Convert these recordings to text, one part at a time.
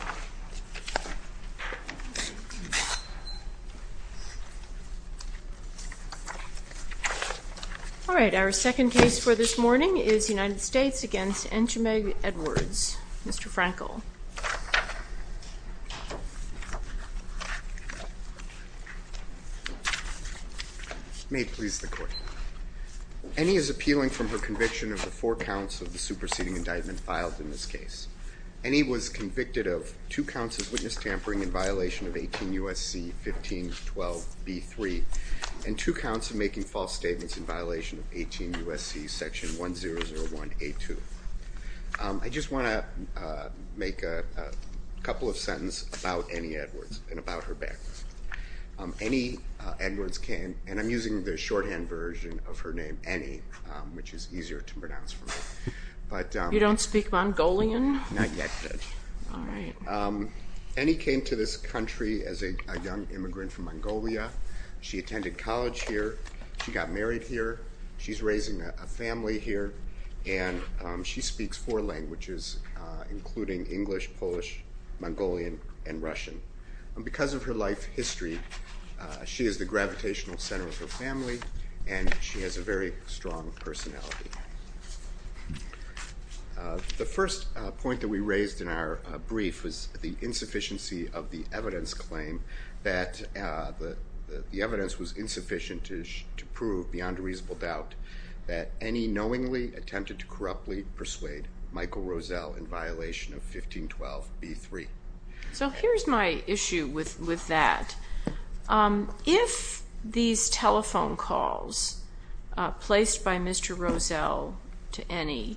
May it please the court, Ennie is appealing from her conviction of the four counts of witness tampering in violation of 18 U.S.C. 1512b3 and two counts of making false statements in violation of 18 U.S.C. section 1001a2. I just want to make a couple of sentences about Ennie Edwards and about her background. Ennie Edwards came, and I'm using the shorthand version of her name, Ennie, which is easier to pronounce for me. You don't speak Mongolian? Not yet, Judge. All right. Ennie came to this country as a young immigrant from Mongolia. She attended college here. She got married here. She's raising a family here, and she speaks four languages, including English, Polish, Mongolian, and Russian. Because of her life history, she is the gravitational center of her family, and she has a very strong personality. The first point that we raised in our brief was the insufficiency of the evidence claim that the evidence was insufficient to prove beyond a reasonable doubt that Ennie knowingly attempted to corruptly persuade Michael Roselle in violation of 1512b3. So here's my issue with that. If these telephone calls placed by Mr. Roselle to Ennie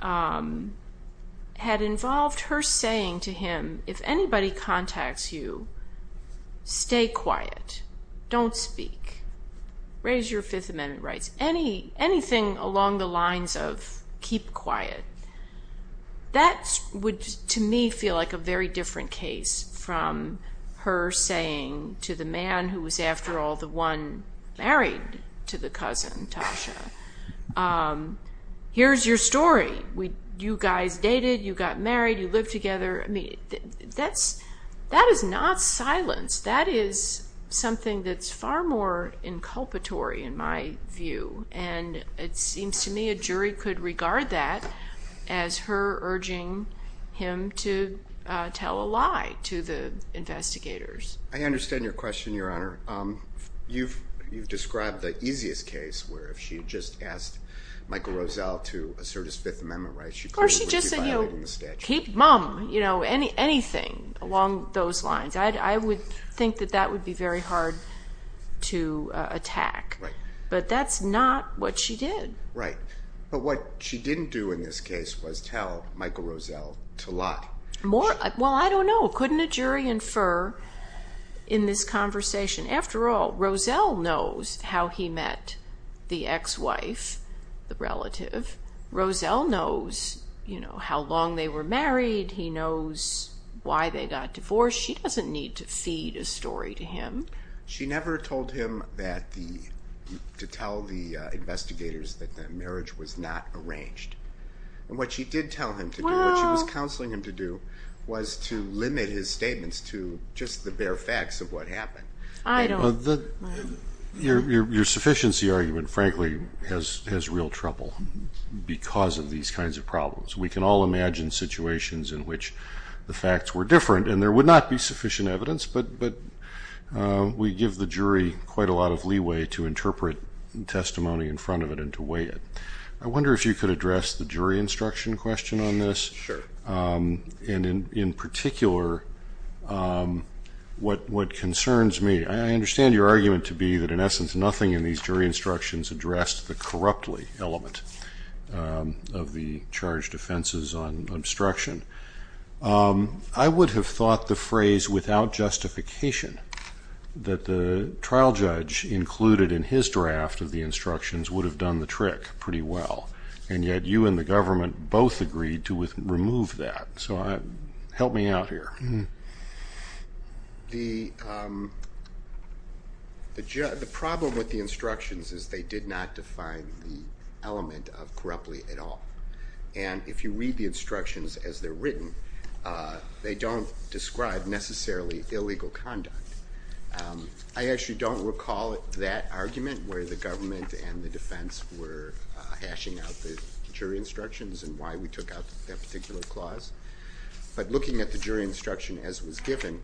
had involved her saying to him, if anybody contacts you, stay quiet. Don't speak. Raise your Fifth Amendment rights. Anything along the lines of keep quiet. That would, to me, feel like a very different case from her saying to the man who was, after all, the one married to the cousin, Tasha, here's your story. You guys dated. You got married. You lived together. That is not silence. That is something that's far more inculpatory, in my view, and it seems to me a jury could regard that as her urging him to tell a lie to the investigators. I understand your question, Your Honor. You've described the easiest case where if she had just asked Michael Roselle to assert his Fifth Amendment rights, she probably would be violating the statute. Or she just said, you know, keep mum, anything along those lines. I would think that that would be very hard to attack. Right. But that's not what she did. Right. But what she didn't do in this case was tell Michael Roselle to lie. Well, I don't know. Couldn't a jury infer in this conversation? After all, Roselle knows how he met the ex-wife, the relative. Roselle knows, you know, how long they were married. He knows why they got divorced. She doesn't need to feed a story to him. She never told him to tell the investigators that the marriage was not arranged. And what she did tell him to do, what she was counseling him to do, was to limit his statements to just the bare facts of what happened. Your sufficiency argument, frankly, has real trouble because of these kinds of problems. We can all imagine situations in which the facts were different, and there would not be sufficient evidence, but we give the jury quite a lot of leeway to interpret testimony in front of it and to weigh it. I wonder if you could address the jury instruction question on this. Sure. And in particular, what concerns me, I understand your argument to be that, in essence, nothing in these jury instructions addressed the corruptly element of the charged offenses on obstruction. I would have thought the phrase, without justification, that the trial judge included in his draft of the instructions would have done the trick pretty well, and yet you and the government both agreed to remove that. So help me out here. The problem with the instructions is they did not define the element of corruptly at all. And if you read the instructions as they're written, they don't describe necessarily illegal conduct. I actually don't recall that argument where the government and the defense were hashing out the jury instructions and why we took out that particular clause. But looking at the jury instruction as it was given,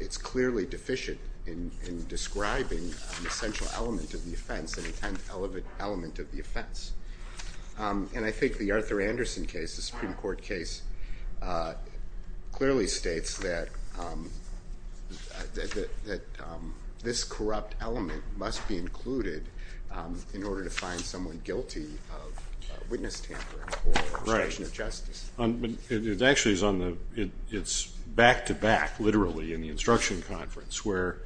it's clearly deficient in describing the central element of the offense, the intent element of the offense. And I think the Arthur Anderson case, the Supreme Court case, clearly states that this corrupt element must be included in order to find someone guilty of witness tampering or obstruction of justice. Right. It actually is back-to-back, literally, in the instruction conference, where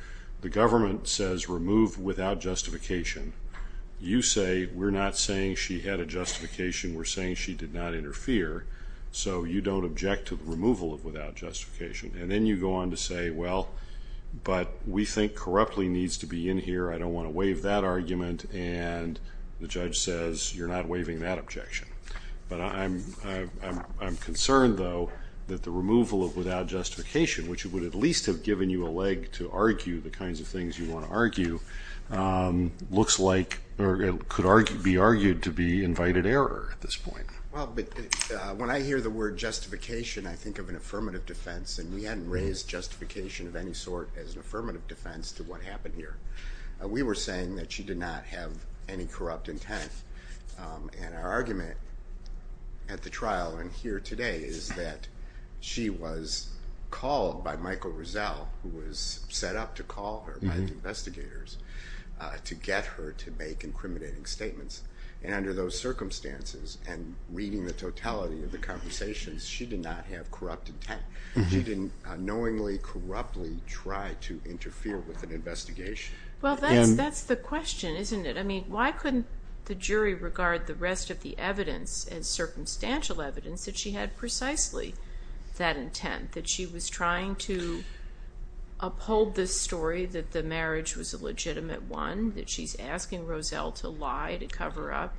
the government says remove without justification. You say we're not saying she had a justification. We're saying she did not interfere. So you don't object to the removal of without justification. And then you go on to say, well, but we think corruptly needs to be in here. I don't want to waive that argument. And the judge says you're not waiving that objection. But I'm concerned, though, that the removal of without justification, which would at least have given you a leg to argue the kinds of things you want to argue, looks like it could be argued to be invited error at this point. Well, when I hear the word justification, I think of an affirmative defense. And we hadn't raised justification of any sort as an affirmative defense to what happened here. We were saying that she did not have any corrupt intent. And our argument at the trial and here today is that she was called by Michael Rizal, who was set up to call her by the investigators to get her to make incriminating statements. And under those circumstances and reading the totality of the conversations, she did not have corrupt intent. She didn't unknowingly, corruptly try to interfere with an investigation. Well, that's the question, isn't it? I mean, why couldn't the jury regard the rest of the evidence as circumstantial evidence that she had precisely that intent, that she was trying to uphold this story, that the marriage was a legitimate one, that she's asking Rozelle to lie, to cover up?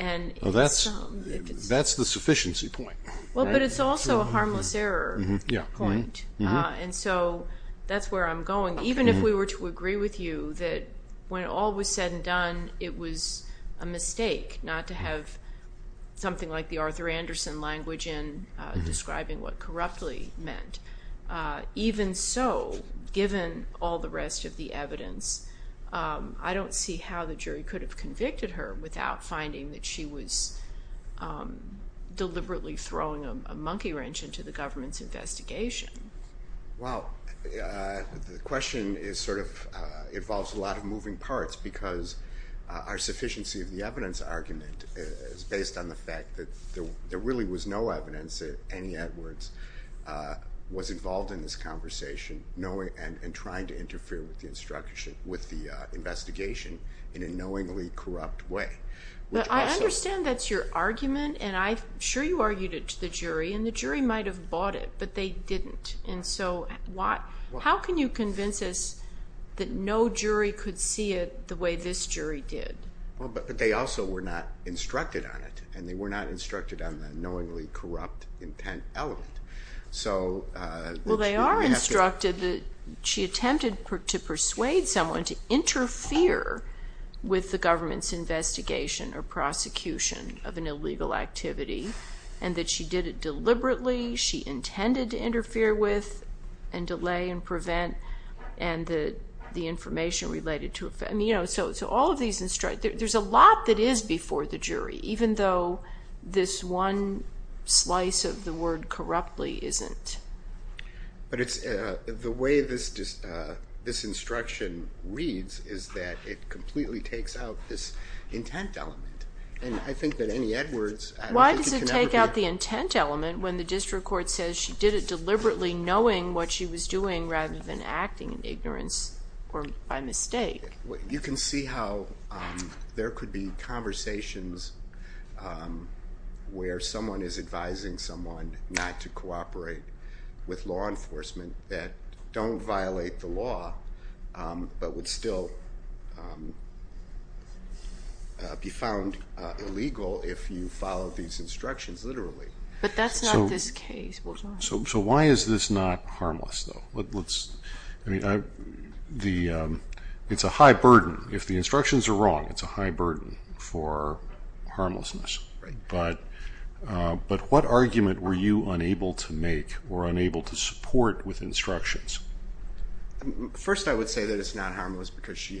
Well, that's the sufficiency point. Well, but it's also a harmless error point. And so that's where I'm going. Even if we were to agree with you that when all was said and done, it was a mistake not to have something like the Arthur Anderson language in describing what corruptly meant, even so, given all the rest of the evidence, I don't see how the jury could have convicted her without finding that she was deliberately throwing a monkey wrench into the government's investigation. Well, the question involves a lot of moving parts because our sufficiency of the evidence argument is based on the fact that there really was no evidence that Annie Edwards was involved in this conversation and trying to interfere with the investigation in a knowingly corrupt way. But I understand that's your argument, and I'm sure you argued it to the jury, and the jury might have bought it, but they didn't. And so how can you convince us that no jury could see it the way this jury did? Well, but they also were not instructed on it, and they were not instructed on the knowingly corrupt intent element. Well, they are instructed that she attempted to persuade someone to interfere with the government's investigation or prosecution of an illegal activity and that she did it deliberately. She intended to interfere with and delay and prevent and the information related to it. So all of these instructions. There's a lot that is before the jury, even though this one slice of the word corruptly isn't. But the way this instruction reads is that it completely takes out this intent element. Why does it take out the intent element when the district court says she did it deliberately knowing what she was doing rather than acting in ignorance or by mistake? You can see how there could be conversations where someone is advising someone not to cooperate with law enforcement that don't violate the law but would still be found illegal if you followed these instructions literally. But that's not this case, was it? So why is this not harmless, though? It's a high burden. If the instructions are wrong, it's a high burden for harmlessness. But what argument were you unable to make or unable to support with instructions? First, I would say that it's not harmless because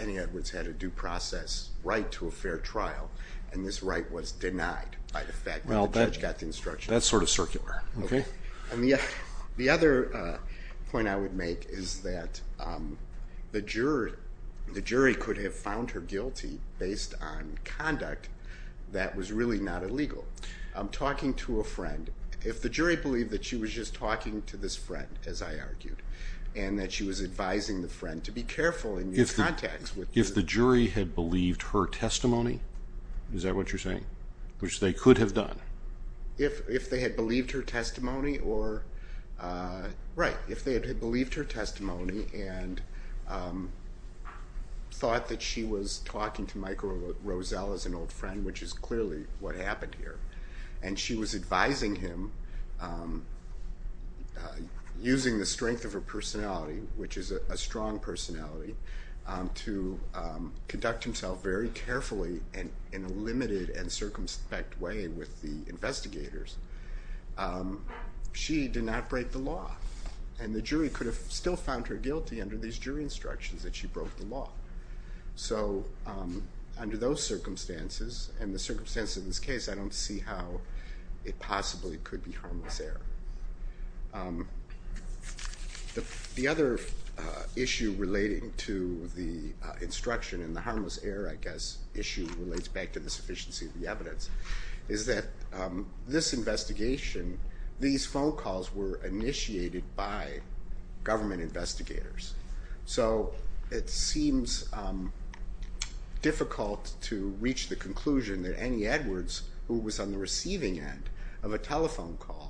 Annie Edwards had a due process right to a fair trial, and this right was denied by the fact that the judge got the instructions. That's sort of circular. The other point I would make is that the jury could have found her guilty based on conduct that was really not illegal. Talking to a friend. If the jury believed that she was just talking to this friend, as I argued, and that she was advising the friend to be careful in these contacts. If the jury had believed her testimony, is that what you're saying, which they could have done? If they had believed her testimony or, right, if they had believed her testimony and thought that she was talking to Michael Rosell as an old friend, which is clearly what happened here, and she was advising him using the strength of her personality, which is a strong personality, to conduct himself very carefully in a limited and circumspect way with the investigators, she did not break the law. And the jury could have still found her guilty under these jury instructions that she broke the law. So under those circumstances, and the circumstances of this case, I don't see how it possibly could be harmless error. The other issue relating to the instruction, and the harmless error, I guess, issue relates back to the sufficiency of the evidence, is that this investigation, these phone calls were initiated by government investigators. So it seems difficult to reach the conclusion that Annie Edwards, who was on the receiving end of a telephone call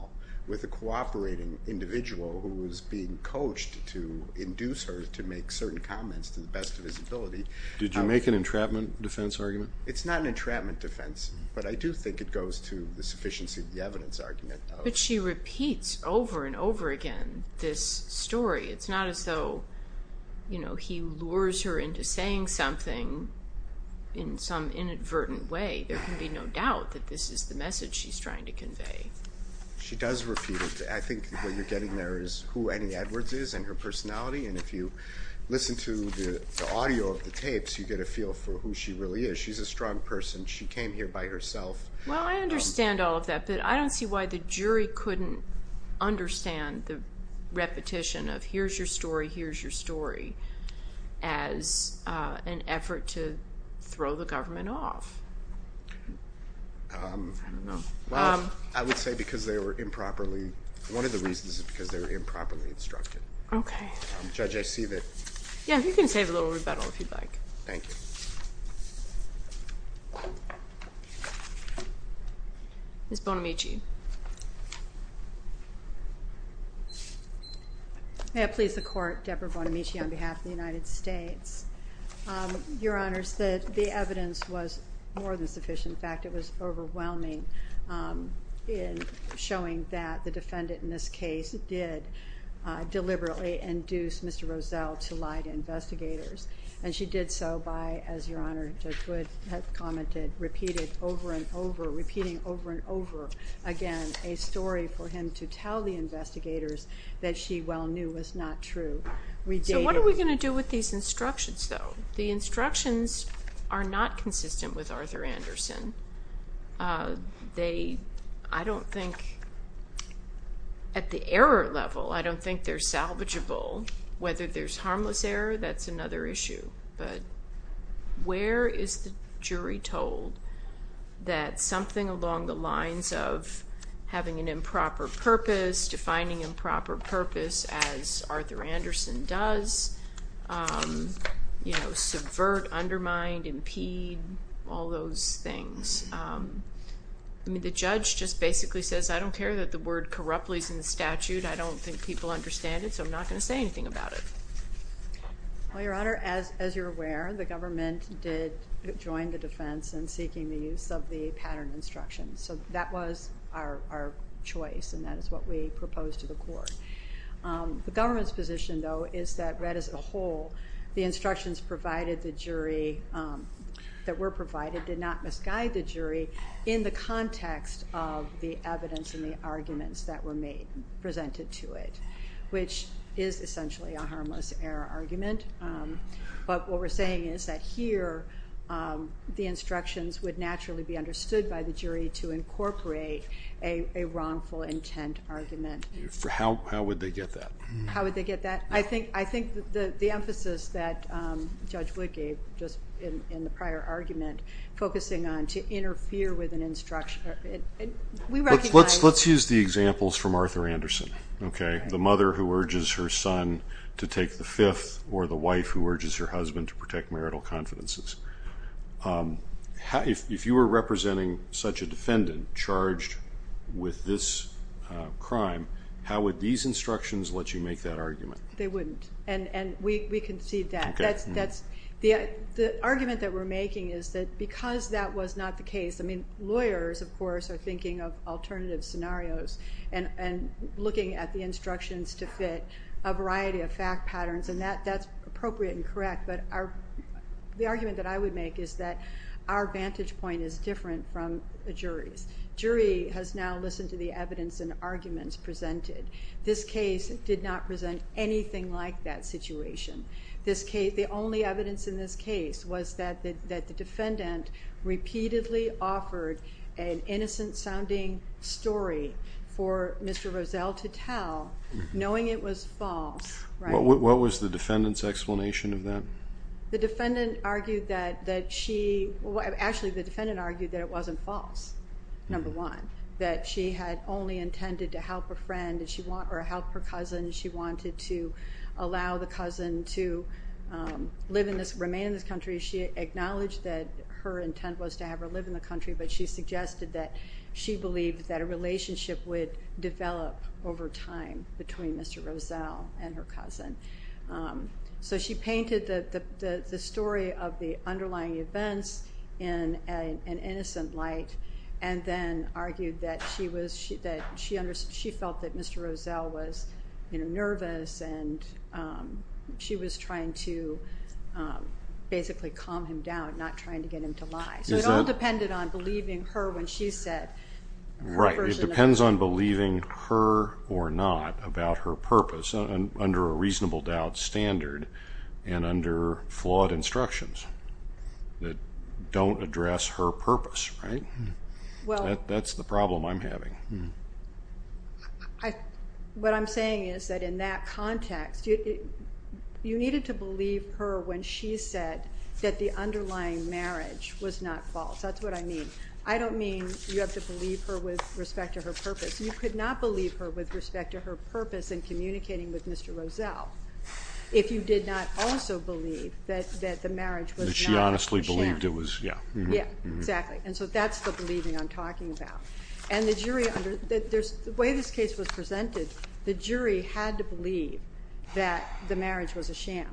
with a cooperating individual who was being coached to induce her to make certain comments to the best of his ability. Did you make an entrapment defense argument? It's not an entrapment defense, but I do think it goes to the sufficiency of the evidence argument. But she repeats over and over again this story. It's not as though, you know, he lures her into saying something in some inadvertent way. There can be no doubt that this is the message she's trying to convey. She does repeat it. I think what you're getting there is who Annie Edwards is and her personality. And if you listen to the audio of the tapes, you get a feel for who she really is. She's a strong person. She came here by herself. Well, I understand all of that, but I don't see why the jury couldn't understand the repetition of here's your story, here's your story as an effort to throw the government off. I don't know. I would say because they were improperly, one of the reasons is because they were improperly instructed. Okay. Judge, I see that. Yeah, you can save a little rebuttal if you'd like. Thank you. Ms. Bonamici. May it please the Court, Deborah Bonamici on behalf of the United States. Your Honors, the evidence was more than sufficient. In fact, it was overwhelming in showing that the defendant in this case And she did so by, as Your Honor, Judge Wood had commented, repeated over and over, repeating over and over again, a story for him to tell the investigators that she well knew was not true. So what are we going to do with these instructions, though? The instructions are not consistent with Arthur Anderson. They, I don't think, at the error level, I don't think they're salvageable. Whether there's harmless error, that's another issue. But where is the jury told that something along the lines of having an improper purpose, defining improper purpose as Arthur Anderson does, subvert, undermine, impede, all those things. I mean, the judge just basically says, I don't care that the word corruptly is in the statute. I don't think people understand it. So I'm not going to say anything about it. Well, Your Honor, as you're aware, the government did join the defense in seeking the use of the pattern instructions. So that was our choice, and that is what we proposed to the court. The government's position, though, is that read as a whole, the instructions provided the jury, that were provided, did not misguide the jury in the context of the evidence and the arguments that were made, presented to it. Which is essentially a harmless error argument. But what we're saying is that here the instructions would naturally be understood by the jury to incorporate a wrongful intent argument. How would they get that? How would they get that? I think the emphasis that Judge Wood gave just in the prior argument, focusing on to interfere with an instruction. Let's use the examples from Arthur Anderson. The mother who urges her son to take the fifth, or the wife who urges her husband to protect marital confidences. If you were representing such a defendant charged with this crime, how would these instructions let you make that argument? They wouldn't, and we concede that. The argument that we're making is that because that was not the case, lawyers, of course, are thinking of alternative scenarios and looking at the instructions to fit a variety of fact patterns, and that's appropriate and correct. But the argument that I would make is that our vantage point is different from the jury's. Jury has now listened to the evidence and arguments presented. This case did not present anything like that situation. The only evidence in this case was that the defendant repeatedly offered an innocent-sounding story for Mr. Rozell to tell, knowing it was false. What was the defendant's explanation of that? Actually, the defendant argued that it wasn't false, number one, that she had only intended to help a friend or help her cousin. She wanted to allow the cousin to remain in this country. She acknowledged that her intent was to have her live in the country, but she suggested that she believed that a relationship would develop over time between Mr. Rozell and her cousin. So she painted the story of the underlying events in an innocent light and then argued that she felt that Mr. Rozell was nervous and she was trying to basically calm him down, not trying to get him to lie. So it all depended on believing her when she said... Right, it depends on believing her or not about her purpose under a reasonable doubt standard and under flawed instructions that don't address her purpose, right? That's the problem I'm having. What I'm saying is that in that context, you needed to believe her when she said that the underlying marriage was not false. That's what I mean. I don't mean you have to believe her with respect to her purpose. You could not believe her with respect to her purpose in communicating with Mr. Rozell if you did not also believe that the marriage was not a sham. That she honestly believed it was, yeah. Yeah, exactly, and so that's the believing I'm talking about. And the way this case was presented, the jury had to believe that the marriage was a sham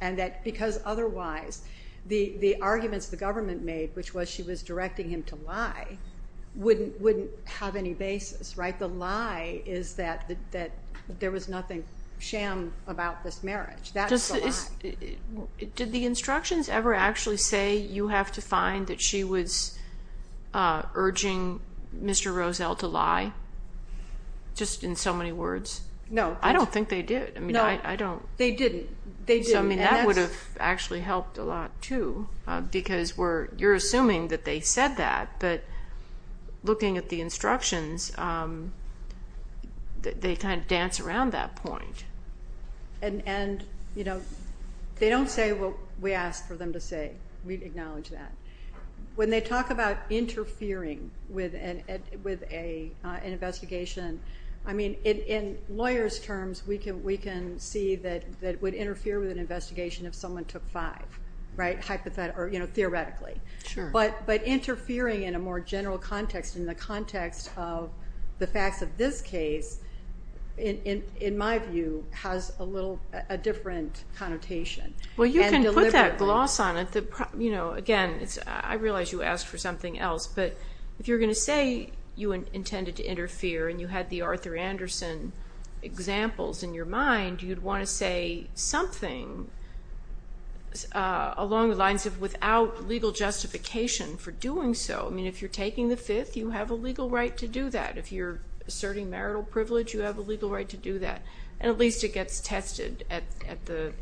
and that because otherwise the arguments the government made, which was she was directing him to lie, wouldn't have any basis, right? The lie is that there was nothing sham about this marriage. That's the lie. Did the instructions ever actually say you have to find that she was urging Mr. Rozell to lie? Just in so many words? No. I don't think they did. No, they didn't. So, I mean, that would have actually helped a lot too because you're assuming that they said that, but looking at the instructions they kind of dance around that point. And they don't say what we asked for them to say. We acknowledge that. When they talk about interfering with an investigation, I mean, in lawyers' terms, we can see that it would interfere with an investigation if someone took five, right, theoretically. Sure. But interfering in a more general context, in the context of the facts of this case, in my view, has a different connotation. Well, you can put that gloss on it. Again, I realize you asked for something else, but if you're going to say you intended to interfere and you had the Arthur Anderson examples in your mind, you'd want to say something along the lines of without legal justification for doing so. I mean, if you're taking the fifth, you have a legal right to do that. If you're asserting marital privilege, you have a legal right to do that. And at least it gets tested at the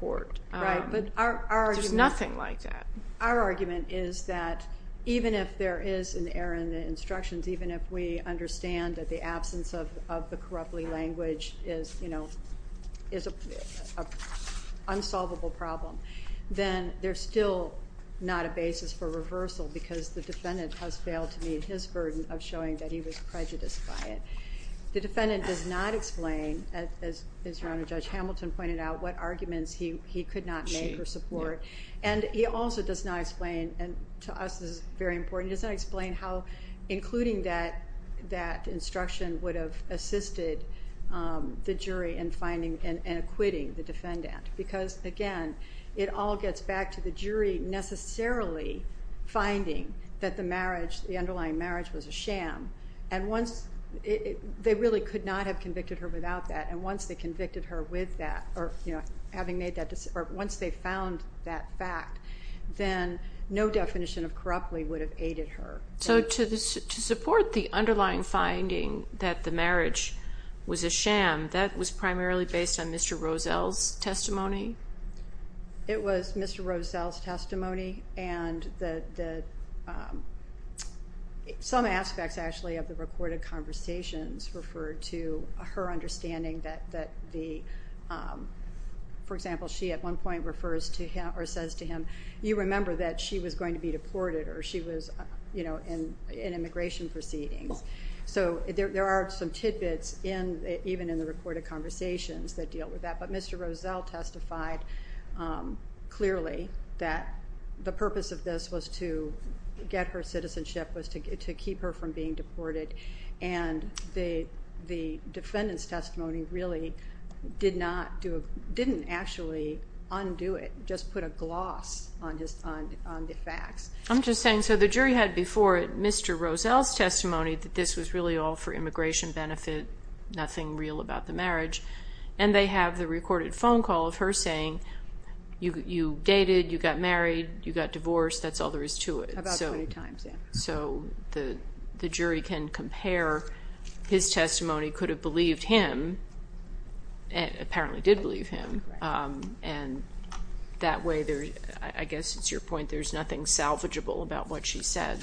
court. Right, but our argument is that, even if there is an error in the instructions, even if we understand that the absence of the corruptly language is an unsolvable problem, then there's still not a basis for reversal because the defendant has failed to meet his burden of showing that he was prejudiced by it. The defendant does not explain, as Your Honor, Judge Hamilton pointed out, what arguments he could not make or support. And he also does not explain, and to us this is very important, he does not explain how including that instruction would have assisted the jury in finding and acquitting the defendant. Because, again, it all gets back to the jury necessarily finding that the underlying marriage was a sham. They really could not have convicted her without that. And once they found that fact, then no definition of corruptly would have aided her. So to support the underlying finding that the marriage was a sham, that was primarily based on Mr. Rozell's testimony? It was Mr. Rozell's testimony. And some aspects, actually, of the recorded conversations referred to her understanding that the, for example, she at one point refers to him or says to him, you remember that she was going to be deported or she was in immigration proceedings. So there are some tidbits even in the recorded conversations that deal with that. But Mr. Rozell testified clearly that the purpose of this was to get her citizenship, was to keep her from being deported. And the defendant's testimony really did not do it, didn't actually undo it, just put a gloss on the facts. I'm just saying, so the jury had before it Mr. Rozell's testimony that this was really all for immigration benefit, nothing real about the marriage. And they have the recorded phone call of her saying you dated, you got married, you got divorced, that's all there is to it. About 20 times, yeah. So the jury can compare his testimony, could have believed him, apparently did believe him, and that way, I guess it's your point, there's nothing salvageable about what she said.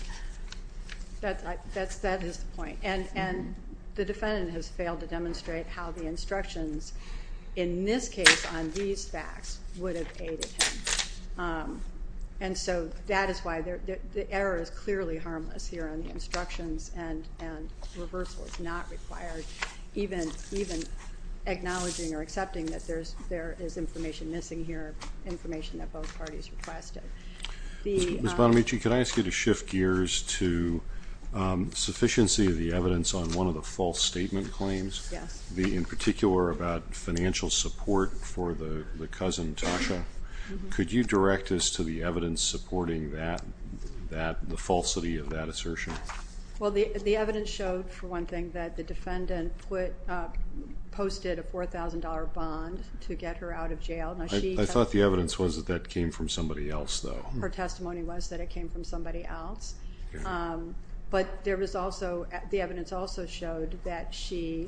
That is the point. And the defendant has failed to demonstrate how the instructions, in this case on these facts, would have aided him. And so that is why the error is clearly harmless here on the instructions and reversal is not required, even acknowledging or accepting that there is information missing here, information that both parties requested. Ms. Bonamici, could I ask you to shift gears to sufficiency of the evidence on one of the false statement claims? Yes. In particular about financial support for the cousin, Tasha. Could you direct us to the evidence supporting the falsity of that assertion? Well, the evidence showed, for one thing, that the defendant posted a $4,000 bond to get her out of jail. I thought the evidence was that that came from somebody else, though. Her testimony was that it came from somebody else. But there was also, the evidence also showed that she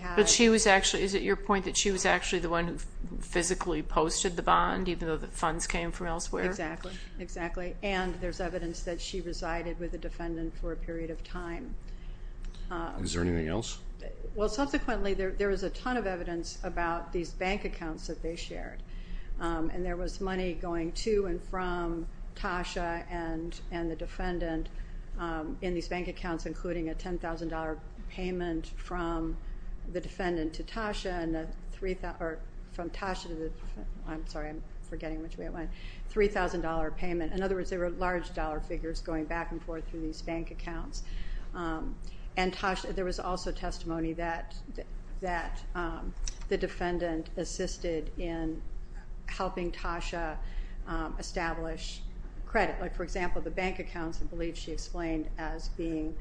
had. But she was actually, is it your point, that she was actually the one who physically posted the bond, even though the funds came from elsewhere? Exactly, exactly. And there's evidence that she resided with the defendant for a period of time. Is there anything else? Well, subsequently, there was a ton of evidence about these bank accounts that they shared, and there was money going to and from Tasha and the defendant in these bank accounts, including a $10,000 payment from the defendant to Tasha and a $3,000 payment. In other words, there were large dollar figures going back and forth through these bank accounts. And there was also testimony that the defendant assisted in helping Tasha establish credit. Like, for example, the bank accounts, I believe she explained, as being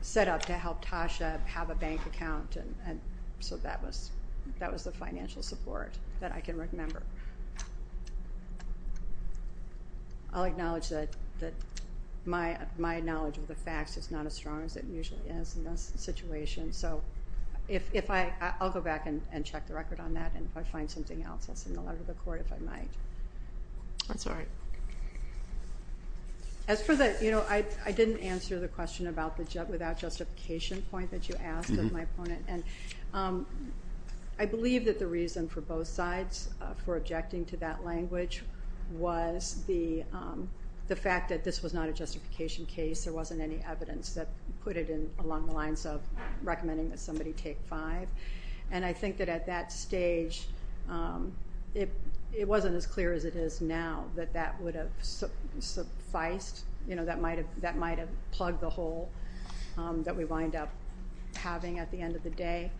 set up to help Tasha have a bank account. So that was the financial support that I can remember. I'll acknowledge that my knowledge of the facts is not as strong as it usually is in this situation, so I'll go back and check the record on that, and if I find something else, I'll send a letter to the court if I might. That's all right. As for the, you know, I didn't answer the question about the without justification point that you asked of my opponent. And I believe that the reason for both sides for objecting to that language was the fact that this was not a justification case. There wasn't any evidence that put it in along the lines of recommending that somebody take five. And I think that at that stage, it wasn't as clear as it is now that that would have sufficed. You know, that might have plugged the hole that we wind up having at the end of the day.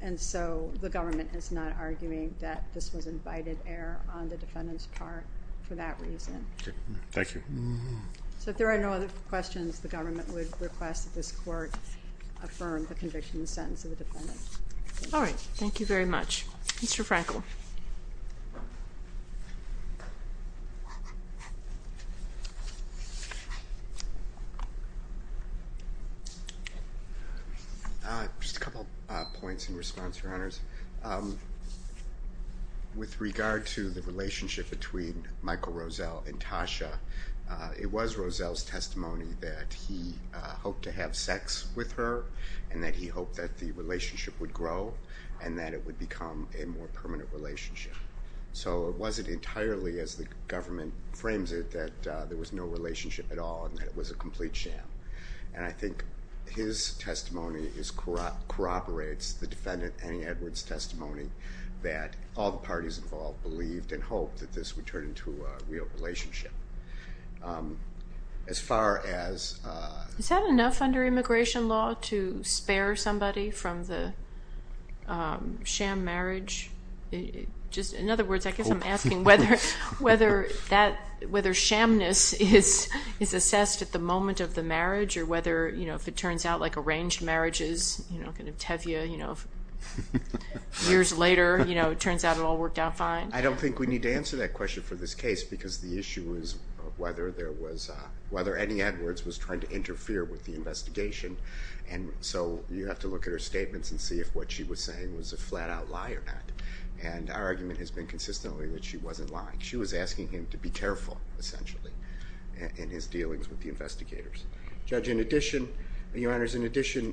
And so the government is not arguing that this was invited error on the defendant's part for that reason. Thank you. So if there are no other questions, the government would request that this court affirm the conviction and the sentence of the defendant. All right. Thank you very much. Mr. Frankel. Just a couple points in response, Your Honors. With regard to the relationship between Michael Roselle and Tasha, it was Roselle's testimony that he hoped to have sex with her and that he hoped that the relationship would grow and that it would become a more permanent relationship. So it wasn't entirely, as the government frames it, that there was no relationship at all and that it was a complete sham. And I think his testimony corroborates the defendant, Annie Edwards, testimony that all the parties involved believed and hoped that this would turn into a real relationship. Is that enough under immigration law to spare somebody from the sham marriage? In other words, I guess I'm asking whether shamness is assessed at the moment of the marriage or whether, if it turns out, like arranged marriages, kind of tevye, years later, it turns out it all worked out fine? I don't think we need to answer that question for this case because the issue is whether there was, whether Annie Edwards was trying to interfere with the investigation. And so you have to look at her statements and see if what she was saying was a flat-out lie or not. And our argument has been consistently that she wasn't lying. She was asking him to be careful, essentially, in his dealings with the investigators. Judge, in addition, Your Honors, in addition,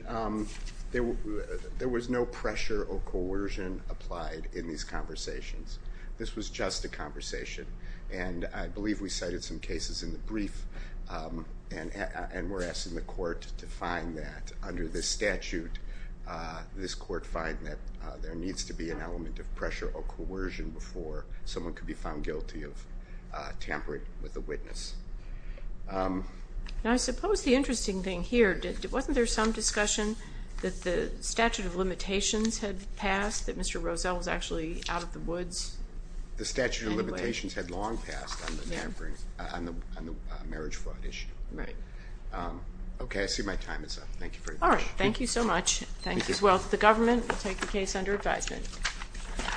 there was no pressure or coercion applied in these conversations. This was just a conversation. And I believe we cited some cases in the brief and were asking the court to find that under this statute, this court find that there needs to be an element of pressure or coercion before someone could be found guilty of tampering with a witness. I suppose the interesting thing here, wasn't there some discussion that the statute of limitations had passed, that Mr. Rozell was actually out of the woods? The statute of limitations had long passed on the marriage fraud issue. Right. Okay, I see my time is up. Thank you very much. All right, thank you so much. Thank you. Thank you as well to the government. We'll take the case under advisement.